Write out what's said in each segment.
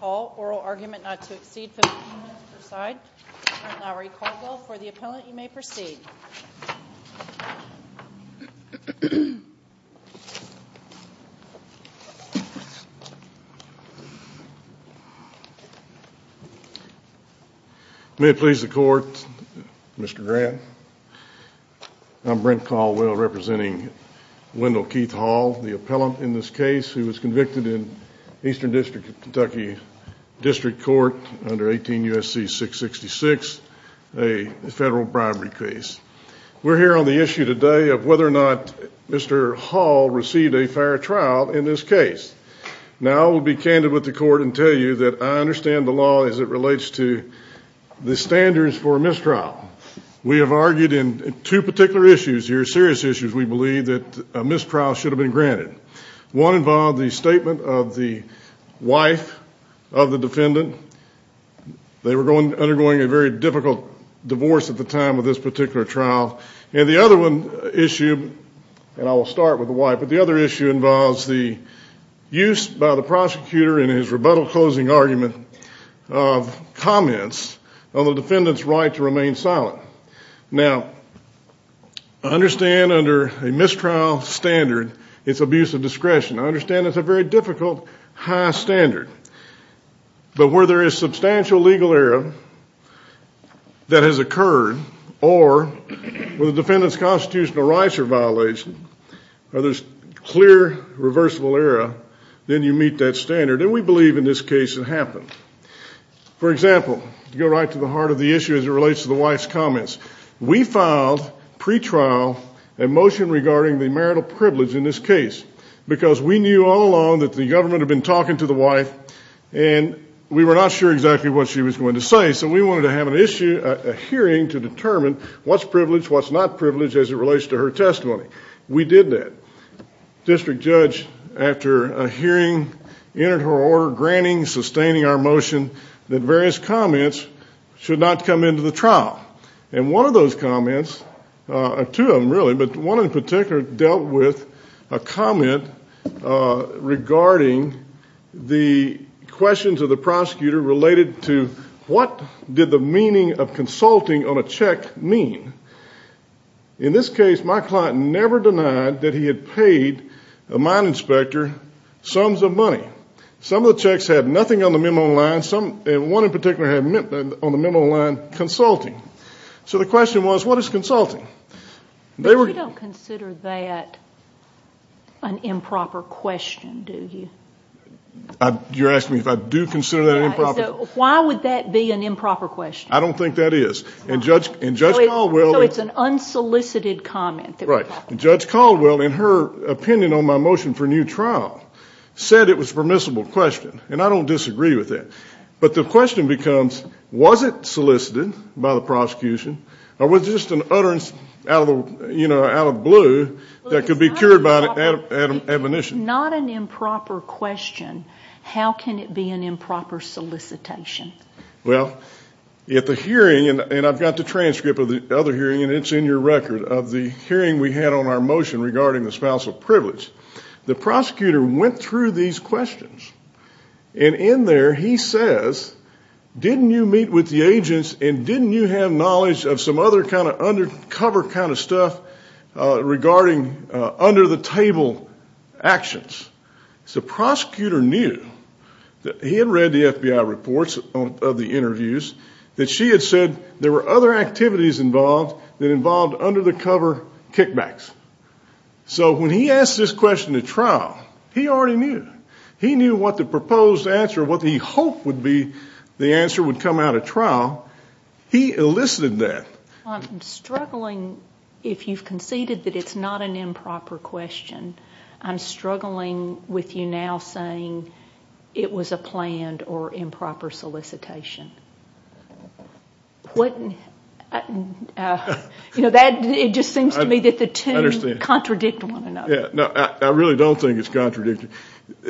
oral argument not to exceed 15 minutes per side. Brent Lowry Caldwell, for the appellant I'm Brent Caldwell representing Wendell Keith Hall, the appellant in this case who was convicted in Eastern District of Kentucky District Court under 18 U.S.C. 666, a federal bribery case. We're here on the issue today of whether or not Mr. Hall received a fair trial in this case. Now I'll be candid with the court and tell you that I understand the law as it relates to the standards for mistrial. We have argued in two particular issues here, serious issues we believe that a mistrial should have been granted. One involved the statement of the wife of the defendant. They were undergoing a very difficult divorce at the time of this particular trial. And the other one issue, and I will start with the wife, but the other comments on the defendant's right to remain silent. Now, I understand under a mistrial standard it's abuse of discretion. I understand it's a very difficult high standard. But where there is substantial legal error that has occurred, or where the defendant's constitutional rights are violated, or there's clear reversible error, then you meet that standard. And we filed, for example, to go right to the heart of the issue as it relates to the wife's comments, we filed pre-trial a motion regarding the marital privilege in this case. Because we knew all along that the government had been talking to the wife and we were not sure exactly what she was going to say. So we wanted to have an issue, a hearing to determine what's privilege, what's not privilege as it relates to her testimony. We did that. District Judge, after a hearing, entered her order granting, sustaining our motion that various comments should not come into the trial. And one of those comments, two of them really, but one in particular dealt with a comment regarding the question to the prosecutor related to what did the meaning of consulting on a check mean. In this case, my client never denied that he had paid a mine inspector sums of money. Some of the checks had nothing on the memo on the line, and one in particular had on the memo on the line, consulting. So the question was, what is consulting? But you don't consider that an improper question, do you? You're asking me if I do consider that an improper question? Why would that be an improper question? I don't think that is. And Judge Caldwell... So it's an unsolicited comment. Right. Judge Caldwell, in her opinion on my motion for new trial, said it was a permissible question, and I don't disagree with that. But the question becomes, was it solicited by the prosecution, or was it just an utterance out of the blue that could be cured by admonition? Not an improper question. How can it be an improper solicitation? Well, at the hearing, and I've got the transcript of the other hearing, and it's in your record of the hearing we had on our motion regarding the spousal privilege, the prosecutor went through these questions. And in there, he says, didn't you meet with the agents and didn't you have knowledge of some other kind of undercover kind of stuff regarding under the table actions? The prosecutor knew that he had read the FBI reports of the interviews, that she had said there were other activities involved that involved under the cover kickbacks. So when he asked this question at trial, he already knew. He knew what the proposed answer, what he hoped would be the answer would come out at trial. He elicited that. I'm struggling. If you've conceded that it's not an improper question, I'm struggling with you now saying it was a planned or improper solicitation. It just seems to me that the two contradict one another. I really don't think it's contradicting.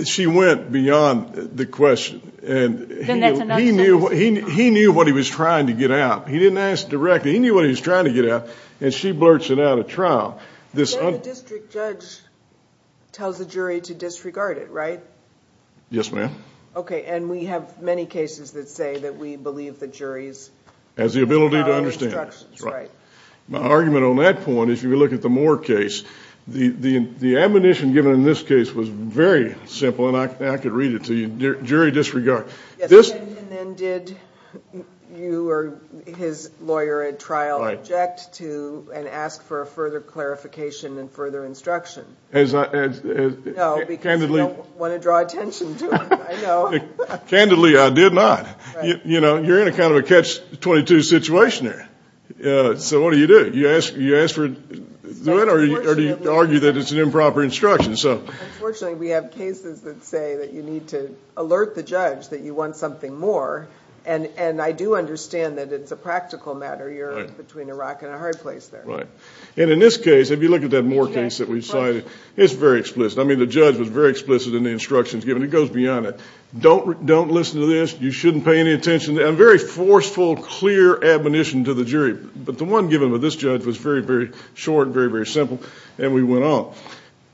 She went beyond the question. He knew what he was trying to get out. He didn't ask directly. He knew what he was trying to get out, and she blurts it out at trial. The district judge tells the jury to disregard it, right? Yes, ma'am. We have many cases that say that we believe the jury has the ability to understand. My argument on that point, if you look at the Moore case, the admonition given in this case was very simple, and I could read it to you. Jury disregard. Yes, and then did you or his lawyer at trial object to and ask for a further clarification and further instruction? No, because you don't want to draw attention to it. I know. Candidly, I did not. You're in a kind of a catch-22 situation there, so what do you do? Do you ask for it, or do you argue that it's an improper instruction? Unfortunately, we have cases that say that you need to alert the judge that you want something more, and I do understand that it's a practical matter. You're between a rock and a hard place there. In this case, if you look at that Moore case that we cited, it's very explicit. The judge was very explicit in the instructions given. It goes beyond that. Don't listen to this. You shouldn't pay any attention. A very forceful, clear admonition to the jury, but the one given by this judge was very, very short, very, very simple, and we went on.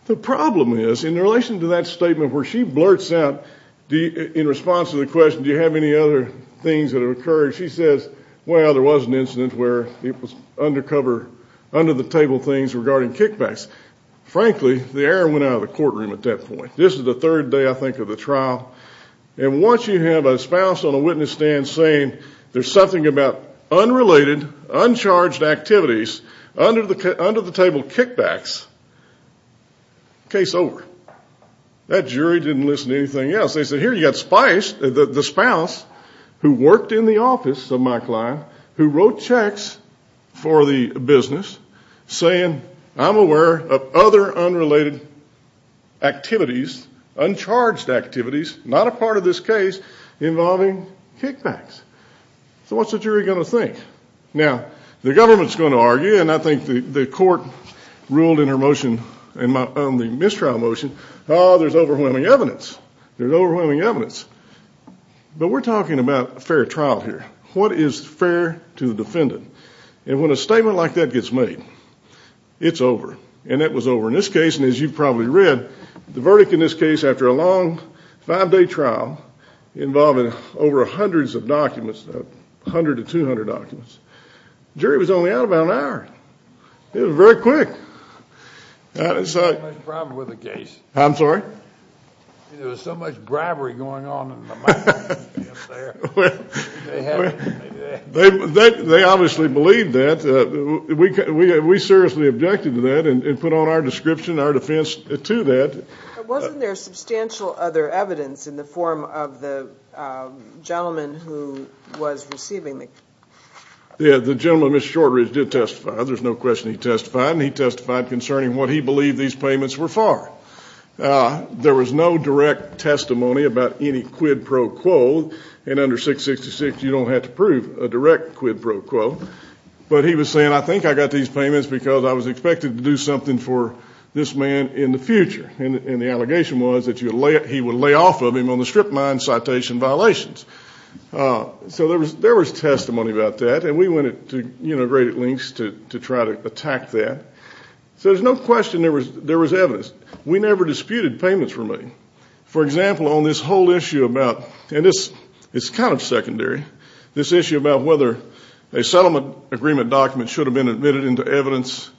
The problem is, in relation to that statement where she blurts out, in response to the question, do you have any other things that have occurred, she says, well, there was an incident where it was undercover, under-the-table things regarding kickbacks. Frankly, the air went out of the courtroom at that point. This is the third day, I think, of the trial, and once you have a spouse on a witness stand saying there's something about unrelated, uncharged activities, under-the-table kickbacks, case over. That jury didn't listen to anything else. They said, here, you've got Spice, the spouse who worked in the office of my client, who wrote checks for the business, saying, I'm aware of other unrelated activities, uncharged activities, not a part of this case, involving kickbacks. So what's the jury going to think? Now, the government's going to argue, and I think the court ruled in her motion, in the mistrial motion, oh, there's overwhelming evidence. There's overwhelming evidence. But we're talking about a fair trial here. What is fair to the defendant? And when a case is over, and it was over in this case, and as you probably read, the verdict in this case, after a long five-day trial, involving over hundreds of documents, 100 to 200 documents, jury was only out about an hour. It was very quick. There was so much bribery going on in the mind of the defense there. Well, they obviously believed that. We seriously objected to that and put on our description, our defense to that. But wasn't there substantial other evidence in the form of the gentleman who was receiving the case? The gentleman, Mr. Shortridge, did testify. There's no question he testified, and he testified concerning what he believed these payments were for. There was no direct testimony about any quid pro quo, and under 666, you don't have to prove a direct quid pro quo. But he was saying, I think I got these payments because I was expected to do something for this man in the future. And the allegation was that he would lay off of him on the strip mine citation violations. So there was testimony about that, and we went to great lengths to try to attack that. So there's no question there was evidence. We never disputed payments from him. For example, on this whole issue about, and this is kind of secondary, this issue about whether a settlement agreement document should have been admitted into evidence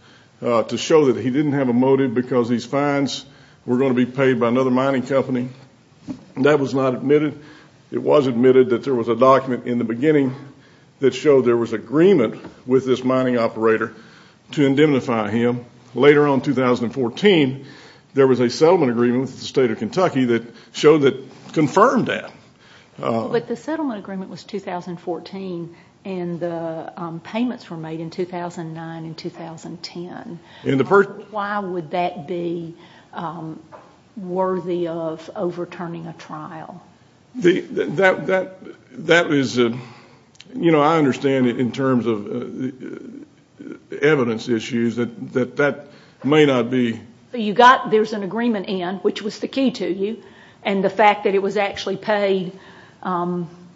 to show that he didn't have a motive because these fines were going to be paid by another mining company. That was not admitted. It was admitted that there was a document in the beginning that showed there was agreement with this mining operator to indemnify him. Later on, in 2014, there was a settlement agreement with the state of Kentucky that showed that, confirmed that. But the settlement agreement was 2014, and the payments were made in 2009 and 2010. Why would that be worthy of overturning a trial? That is, you know, I understand it in terms of evidence issues, that that may not be. You got, there's an agreement in, which was the key to you, and the fact that it was actually paid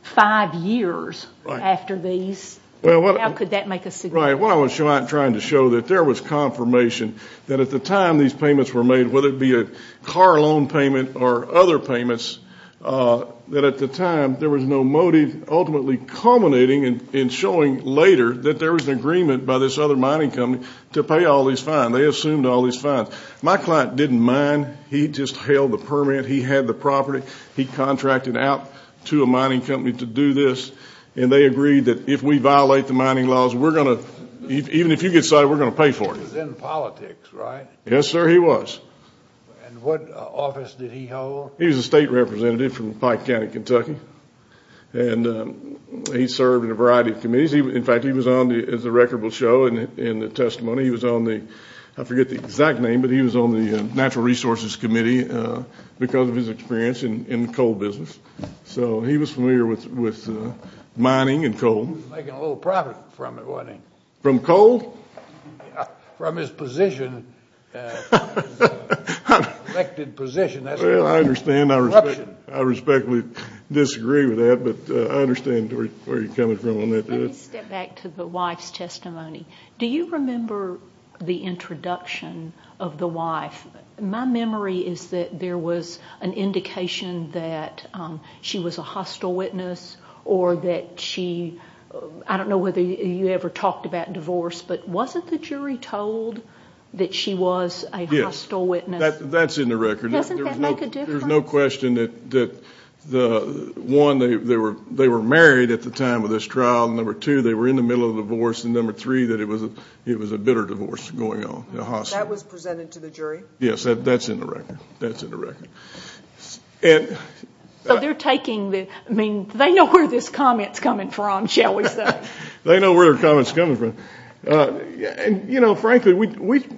five years after these, how could that make a suggestion? Right, what I was trying to show, that there was confirmation that at the time these payments were made, whether it be a car loan payment or other payments, that at the time there was no motive, ultimately culminating in showing later that there was an agreement by this other mining company to pay all these fines. They assumed all these fines. My client didn't mine. He just held the permit. He had the property. He contracted out to a mining company to do this, and they agreed that if we violate the mining laws, we're going to, even if you get cited, we're going to pay for it. He was in politics, right? Yes, sir, he was. And what office did he hold? He was a state representative from Pike County, Kentucky, and he served in a variety of committees. In fact, he was on, as the record will show in the testimony, he was on the, I forget the exact name, but he was on the Natural Resources Committee because of his experience in the coal business. So he was familiar with mining and coal. He was making a little profit from it, wasn't he? From coal? From his position, his elected position. Well, I understand. I respectfully disagree with that, but I understand where you're coming from on that. Let me step back to the wife's testimony. Do you remember the introduction of the wife? My memory is that there was an indication that she was a hostile witness or that she, I don't know whether you ever talked about divorce, but wasn't the jury told that she was a hostile witness? Yes, that's in the record. Doesn't that make a difference? There's no question that, one, they were married at the time of this trial, and number two, they were in the middle of a divorce, and number three, that it was a bitter divorce going on, a hostile. That was presented to the jury? Yes, that's in the record. So they're taking the, I mean, they know where this comment's coming from, shall we say. They know where the comment's coming from. And, you know, frankly, when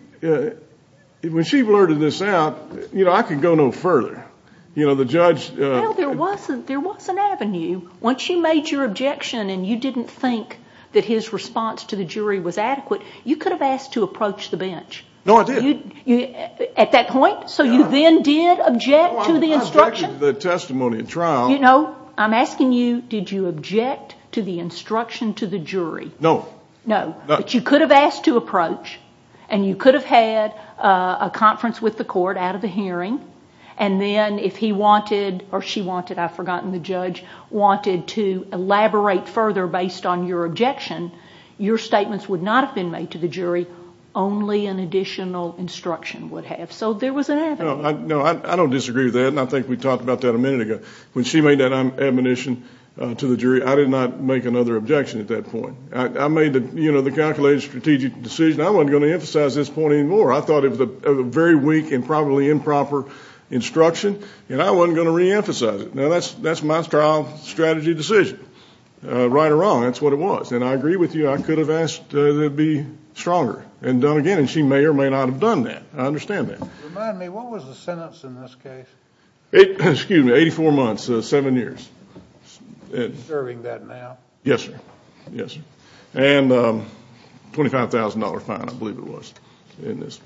she blurted this out, you know, I could go no further. You know, the judge Well, there was an avenue. Once you made your objection and you didn't think that his response to the jury was adequate, you could have asked to approach the bench. No, I did. At that point? No. You then did object to the instruction? No, I objected to the testimony at trial. You know, I'm asking you, did you object to the instruction to the jury? No. No. No. But you could have asked to approach, and you could have had a conference with the court out of the hearing, and then if he wanted, or she wanted, I've forgotten, the judge, wanted to elaborate further based on your objection, your statements would not have been made to the jury, only an additional instruction would have. So there was an avenue. No, I don't disagree with that, and I think we talked about that a minute ago. When she made that admonition to the jury, I did not make another objection at that point. I made the, you know, the calculated strategic decision. I wasn't going to emphasize this point anymore. I thought it was a very weak and probably improper instruction, and I wasn't going to reemphasize it. Now, that's my trial strategy decision, right or wrong, that's what it was. And I agree with you, I could have asked to be stronger and done again, and she may or may not have done that. I understand that. Remind me, what was the sentence in this case? Excuse me, 84 months, 7 years. Serving that now? Yes, sir. Yes, sir. And a $25,000 fine, I believe it was, in this.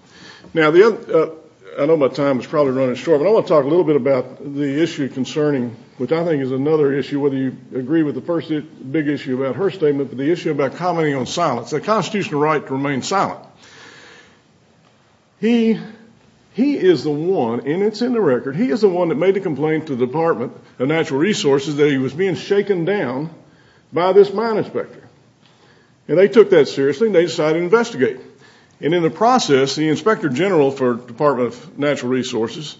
Now, I know my time is probably running short, but I want to talk a little bit about the issue concerning, which I think is another issue, whether you agree with the first big issue about her statement, but the issue about commenting on silence. The constitutional right to remain silent. He is the one, and it's in the record, he is the one that made the complaint to the Department of Natural Resources that he was being shaken down by this mine inspector. And they took that seriously, and they decided to investigate him. And in the process, the Inspector General for the Department of Natural Resources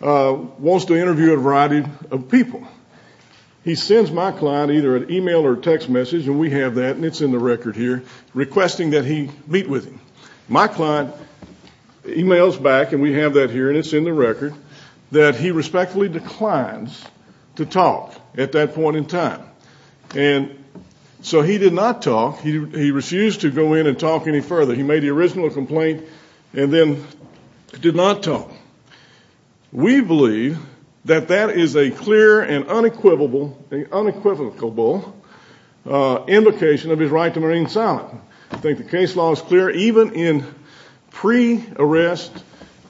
wants to interview a variety of people. He sends my client either an email or text message, and we have that, and it's in the My client emails back, and we have that here, and it's in the record, that he respectfully declines to talk at that point in time. And so he did not talk. He refused to go in and talk any further. He made the original complaint and then did not talk. We believe that that is a clear and unequivocal indication of his right to remain silent. I think the case law is clear, even in pre-arrest,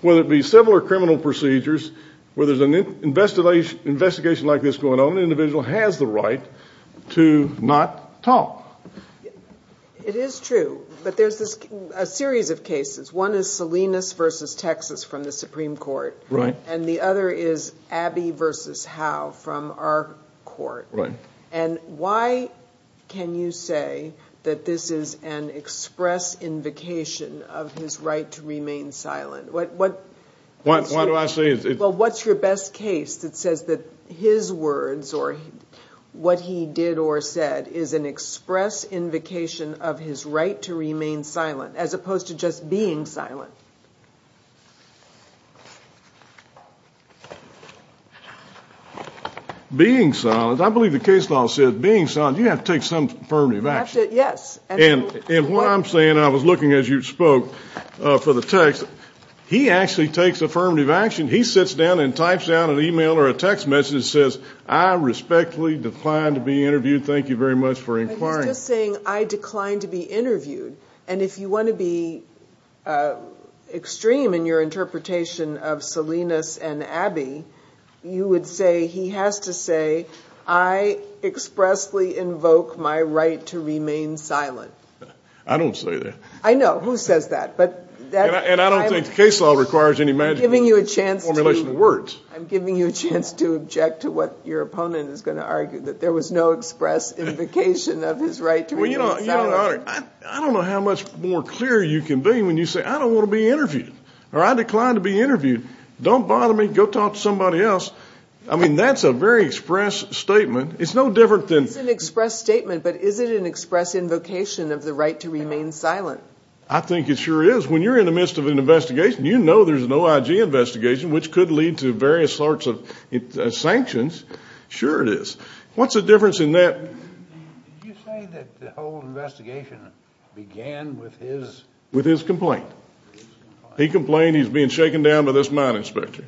whether it be civil or criminal procedures, where there's an investigation like this going on, an individual has the right to not talk. It is true, but there's a series of cases. One is Salinas v. Texas from the Supreme Court, and the other is Abbey v. Howe from our court. And why can you say that this is an express invocation of his right to remain silent? Why do I say it? Well, what's your best case that says that his words or what he did or said is an express invocation of his right to remain silent, as opposed to just being silent? Being silent. I believe the case law says being silent, you have to take some affirmative action. Yes. And what I'm saying, I was looking as you spoke for the text. He actually takes affirmative action. He sits down and types down an email or a text message that says, I respectfully decline to be interviewed. Thank you very much for inquiring. He's just saying, I decline to be interviewed. And if you want to be extreme in your interpretation of Salinas and Abbey, you would say he has to say, I expressly invoke my right to remain silent. I don't say that. I know, who says that? And I don't think the case law requires any magical formulation of words. I'm giving you a chance to object to what your opponent is going to argue, that there was no express invocation of his right to remain silent. I don't know how much more clear you can be when you say, I don't want to be interviewed, or I decline to be interviewed. Don't bother me. Go talk to somebody else. I mean, that's a very express statement. It's no different than. It's an express statement. But is it an express invocation of the right to remain silent? I think it sure is. When you're in the midst of an investigation, you know there's an OIG investigation, which could lead to various sorts of sanctions. Sure it is. What's the difference in that? Did you say that the whole investigation began with his? With his complaint. He complained he's being shaken down by this mine inspector.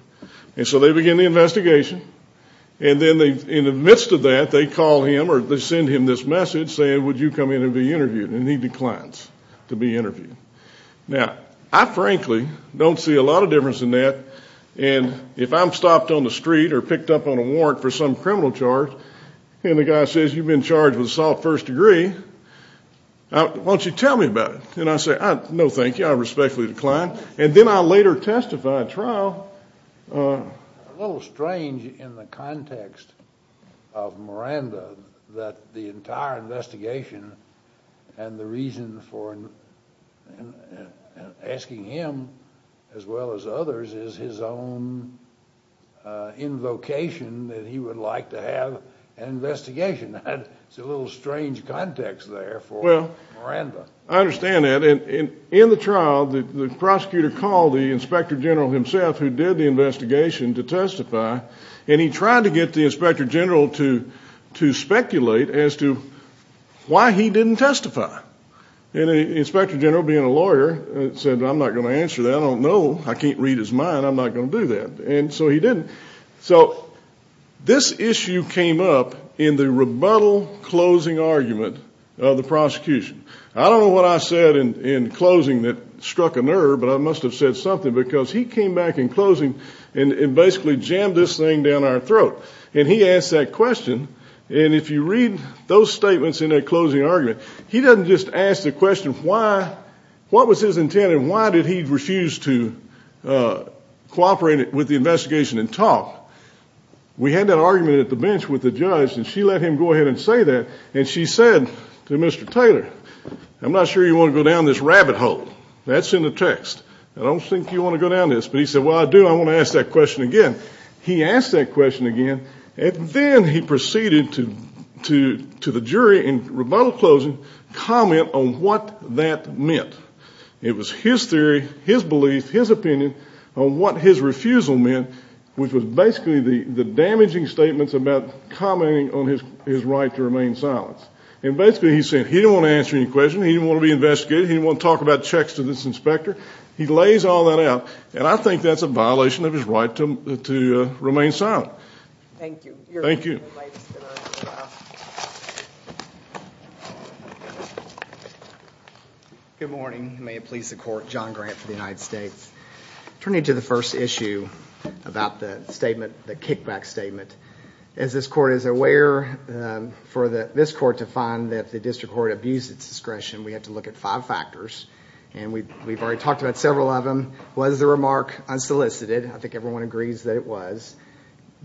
And so they begin the investigation. And then in the midst of that, they call him or they send him this message saying, would you come in and be interviewed? And he declines to be interviewed. Now, I frankly don't see a lot of difference in that. And if I'm stopped on the street or picked up on a warrant for some criminal charge, and the guy says, you've been charged with assault first degree, why don't you tell me about it? And I say, no, thank you. I respectfully decline. And then I later testify at trial. A little strange in the context of Miranda that the entire investigation and the reason for asking him as well as others is his own invocation that he would like to have an investigation. It's a little strange context there for Miranda. Well, I understand that. And in the trial, the prosecutor called the inspector general himself who did the investigation to testify. And he tried to get the inspector general to speculate as to why he didn't testify. And the inspector general, being a lawyer, said, I'm not going to answer that. I don't know. I can't read his mind. I'm not going to do that. And so he didn't. So this issue came up in the rebuttal closing argument of the prosecution. I don't know what I said in closing that struck a nerve, but I must have said something, because he came back in closing and basically jammed this thing down our throat. And he asked that question. And if you read those statements in that closing argument, he doesn't just ask the question, what was his intent, why did he refuse to cooperate with the investigation and talk? We had that argument at the bench with the judge, and she let him go ahead and say that. And she said to Mr. Taylor, I'm not sure you want to go down this rabbit hole. That's in the text. I don't think you want to go down this. But he said, well, I do. I want to ask that question again. He asked that question again. And then he proceeded to the jury in rebuttal closing comment on what that meant. It was his theory, his belief, his opinion on what his refusal meant, which was basically the damaging statements about commenting on his right to remain silent. And basically he said he didn't want to answer any questions. He didn't want to be investigated. He didn't want to talk about checks to this inspector. He lays all that out, and I think that's a violation of his right to remain silent. Thank you. Thank you. Good morning. May it please the court. John Grant for the United States. Turning to the first issue about the statement, the kickback statement. As this court is aware, for this court to find that the district court abused its discretion, we had to look at five factors. And we've already talked about several of them. Was the remark unsolicited? I think everyone agrees that it was.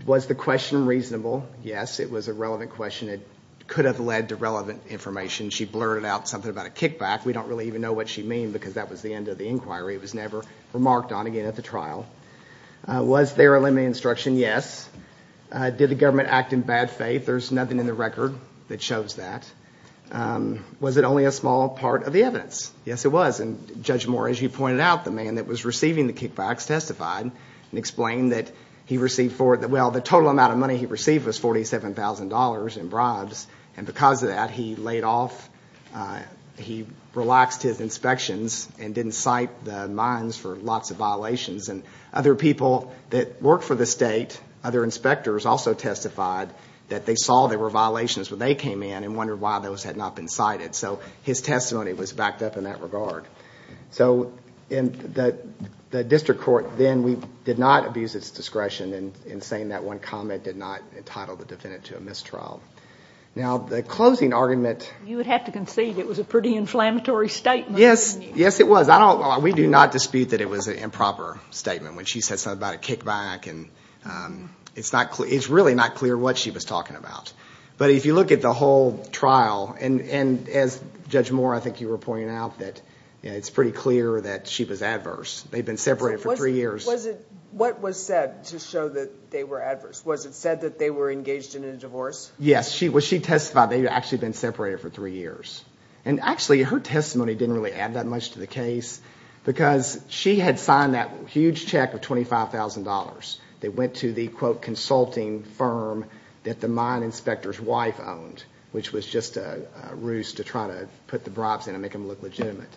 Was the question reasonable? Yes. It was a relevant question. It could have led to relevant information. She blurted out something about a kickback. We don't really even know what she meant because that was the end of the inquiry. It was never remarked on again at the trial. Was there a limited instruction? Yes. Did the government act in bad faith? There's nothing in the record that shows that. Was it only a small part of the evidence? Yes, it was. And Judge Moore, as you pointed out, the man that was receiving the kickbacks testified and explained that he received the total amount of money he received was $47,000 in bribes. And because of that, he laid off, he relaxed his inspections and didn't cite the mines for lots of violations. And other people that worked for the state, other inspectors also testified that they saw there were violations when they came in and wondered why those had not been cited. So his testimony was backed up in that regard. So the district court then did not abuse its discretion in saying that one comment did not entitle the defendant to a mistrial. Now, the closing argument... You would have to concede it was a pretty inflammatory statement. Yes, it was. We do not dispute that it was an improper statement when she said something about a kickback. It's really not clear what she was talking about. But if you look at the whole trial, and as Judge Moore, I think you were pointing out, that it's pretty clear that she was adverse. They'd been separated for three years. What was said to show that they were adverse? Was it said that they were engaged in a divorce? Yes. She testified they'd actually been separated for three years. And actually, her testimony didn't really add that much to the case because she had signed that huge check of $25,000. They went to the, quote, consulting firm that the mine inspector's wife owned, which was just a ruse to try to put the bribes in and make them look legitimate.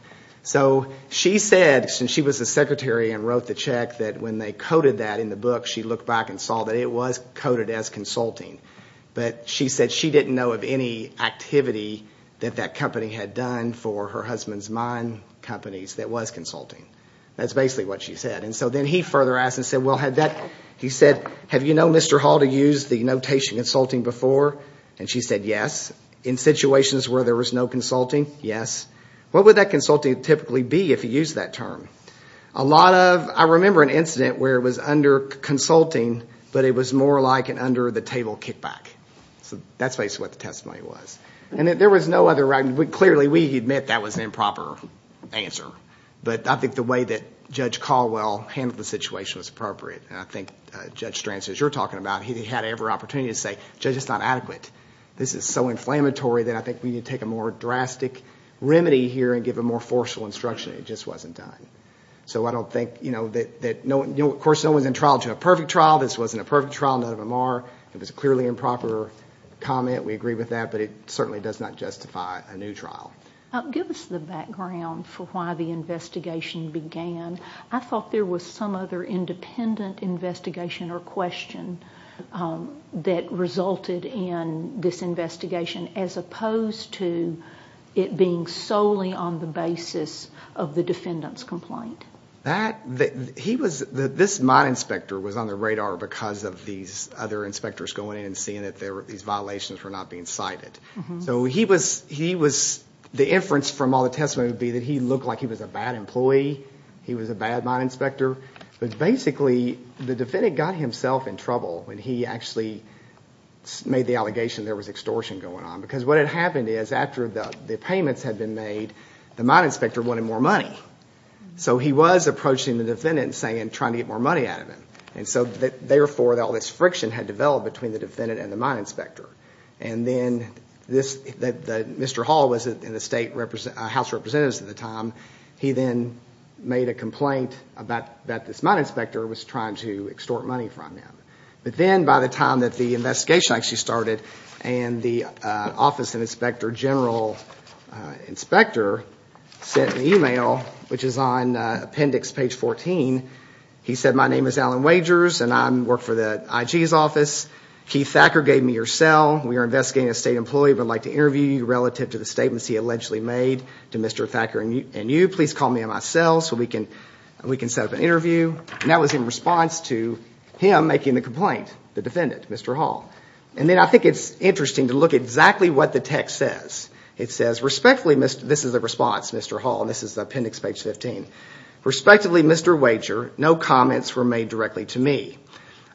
So she said, since she was the secretary and wrote the check, that when they coded that in the book, she looked back and saw that it was coded as consulting. But she said she didn't know of any activity that that company had done for her husband's mine companies that was consulting. That's basically what she said. And so then he further asked and said, well, he said, have you known Mr. Hall to use the notation consulting before? And she said, yes. In situations where there was no consulting, yes. What would that consulting typically be if he used that term? A lot of, I remember an incident where it was under consulting, but it was more like an under the table kickback. So that's basically what the testimony was. And there was no other, clearly we admit that was an improper answer. But I think the way that Judge Caldwell handled the situation was appropriate. And I think Judge Strand, as you're talking about, he had every opportunity to say, Judge, it's not adequate. This is so inflammatory that I think we need to take a more limited here and give a more forceful instruction. It just wasn't done. So I don't think, you know, of course no one's in trial to a perfect trial. This wasn't a perfect trial. None of them are. It was a clearly improper comment. We agree with that. But it certainly does not justify a new trial. Give us the background for why the investigation began. I thought there was some other independent investigation or question that resulted in this investigation as opposed to it being solely on the basis of the defendant's complaint. That, he was, this mine inspector was on the radar because of these other inspectors going in and seeing that these violations were not being cited. So he was, the inference from all the testimony would be that he looked like he was a bad employee, he was a bad mine inspector. But basically the defendant got himself in trouble when he actually made the allegation there was extortion going on. Because what had happened is after the payments had been made, the mine inspector wanted more money. So he was approaching the defendant and saying, trying to get more money out of him. And so therefore all this friction had developed between the defendant and the mine inspector. And then this, Mr. Hall was in the state house of representatives at the time. He then made a complaint about that this mine inspector was trying to extort money from him. But then by the time that the investigation actually started and the office inspector, general inspector sent an email which is on appendix page 14. He said, my name is Alan Wagers and I work for the IG's office. Keith Thacker gave me your cell. We are investigating a state employee. We'd like to interview you relative to the statements he allegedly made to Mr. Thacker and you. Please call me on my cell so we can set up an interview. And that was in response to him making the complaint, the defendant, Mr. Hall. And then I think it's interesting to look exactly what the text says. It says, respectfully, this is the response, Mr. Hall. This is appendix page 15. Respectively, Mr. Wager, no comments were made directly to me.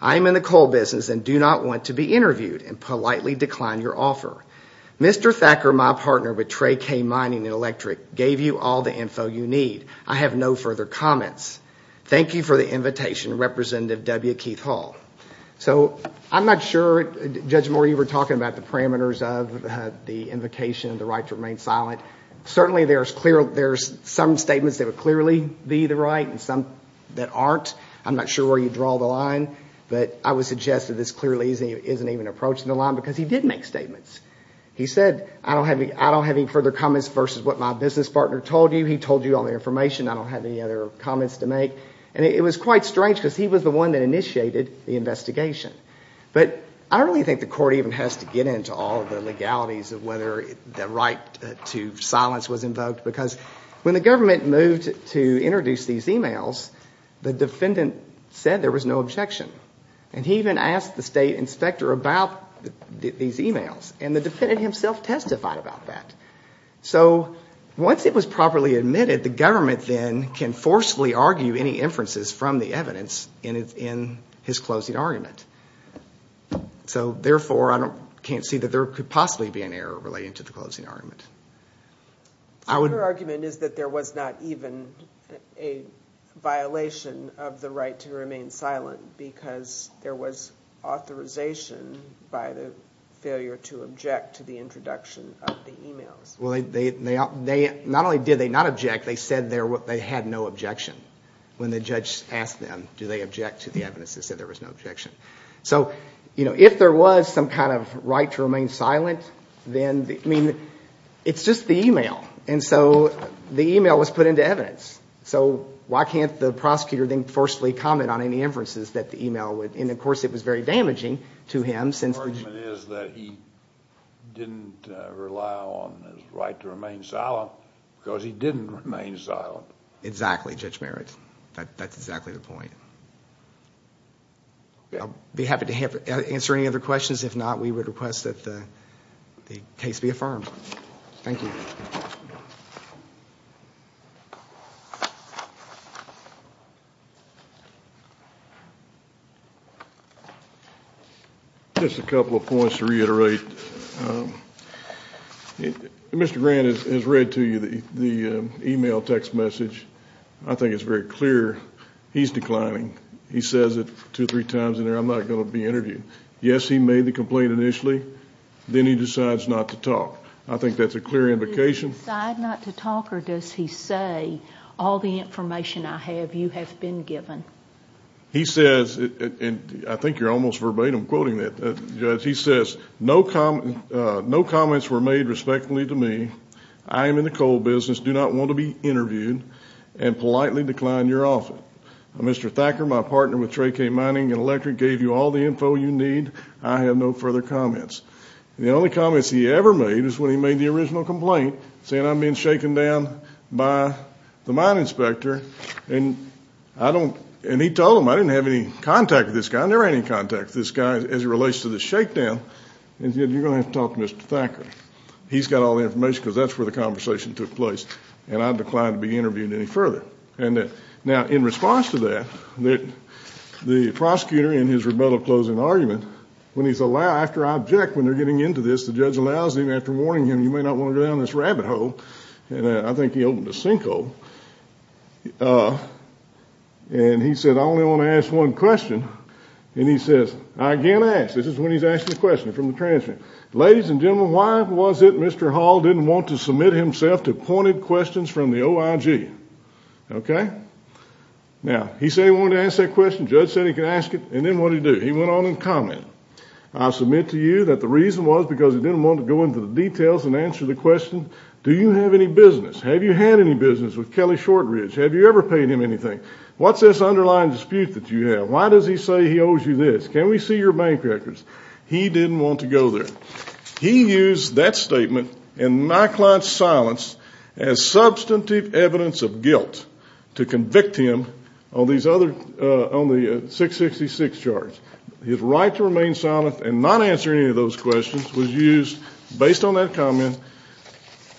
I am in the coal business and do not want to be interviewed and politely decline your offer. Mr. Thacker, my partner with Trey K Mining and Electric, gave you all the info you need. I have no further comments. Thank you for the invitation, Representative W. Keith Hall. So I'm not sure, Judge Moore, you were talking about the parameters of the invocation, the right to remain silent. Certainly there's some statements that would clearly be the right and some that aren't. I'm not sure where you draw the line. But I would suggest that this clearly isn't even approaching the line because he did make statements. He said, I don't have any further comments versus what my business partner told you. He told you all the information. I don't have any other comments to make. And it was quite strange because he was the one that initiated the investigation. But I don't really think the court even has to get into all the legalities of whether the right to silence was invoked because when the government moved to introduce these emails, the defendant said there was no objection. And he even asked the state inspector about these emails. And the defendant himself testified about that. So once it was properly admitted, the government then can forcefully argue any inferences from the evidence in his closing argument. So therefore, I can't see that there could possibly be an error relating to the closing argument. Your argument is that there was not even a violation of the right to remain silent because there was authorization by the failure to object to the introduction of the emails. Well, not only did they not object, they said they had no objection when the judge asked them, do they object to the evidence? They said there was no objection. So if there was some kind of right to remain silent, then it's just the email. And so the email was put into evidence. So why can't the prosecutor then forcefully comment on any inferences that the email would? And of course, it was very damaging to him since the argument is that he didn't rely on his right to remain silent because he didn't remain silent. Exactly, Judge Merritt. That's exactly the point. I'll be happy to answer any other questions. If not, we would request that the case be affirmed. Thank you. Just a couple of points to reiterate. Mr. Grant has read to you the email text message. I think it's very clear he's declining. He says it two or three times in there, I'm not going to be interviewed. Yes, he made the complaint initially. Then he decides not to talk. I think that's a clear indication. Does he decide not to talk or does he say all the information I have, you have been given? He says, and I think you're almost verbatim quoting that, Judge, he says, no comments were made respectfully to me. I am in the coal business, do not want to be interviewed and politely decline your offer. Mr. Thacker, my partner with Trey K. Mining and Electric, gave you all the info you need. I have no further comments. The only comments he ever made is when he made the original complaint saying I'm being shaken down by the mine inspector and he told him I didn't have any contact with this guy. I said, no, there ain't any contact with this guy as it relates to the shakedown and you're going to have to talk to Mr. Thacker. He's got all the information because that's where the conversation took place and I decline to be interviewed any further. Now, in response to that, the prosecutor in his rebuttal closing argument, when he's allowed, after I object when they're getting into this, the judge allows him, after warning him, you may not want to go down this rabbit hole, and I think he opened a sinkhole, and he said, I only want to ask one question, and he says, I can't ask. This is when he's asking a question from the transcript. Ladies and gentlemen, why was it Mr. Hall didn't want to submit himself to pointed questions from the OIG? Okay? Now, he said he wanted to ask that question, the judge said he could ask it, and then what did he do? He went on and commented. I submit to you that the reason was because he didn't want to go into the details and answer the question, do you have any business? Have you had any business with Kelly Shortridge? Have you ever paid him anything? What's this underlying dispute that you have? Why does he say he owes you this? Can we see your bank records? He didn't want to go there. He used that statement and my client's silence as substantive evidence of guilt to convict him on these other, on the 666 charge. His right to remain silent and not answer any of those questions was used based on that comment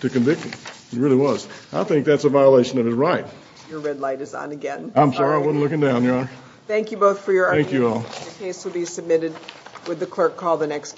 to convict him. It really was. I think that's a violation of his right. Your red light is on again. I'm sorry. I wasn't looking down, Your Honor. Thank you both for your arguments. Thank you all. The case will be submitted with the clerk call the next case.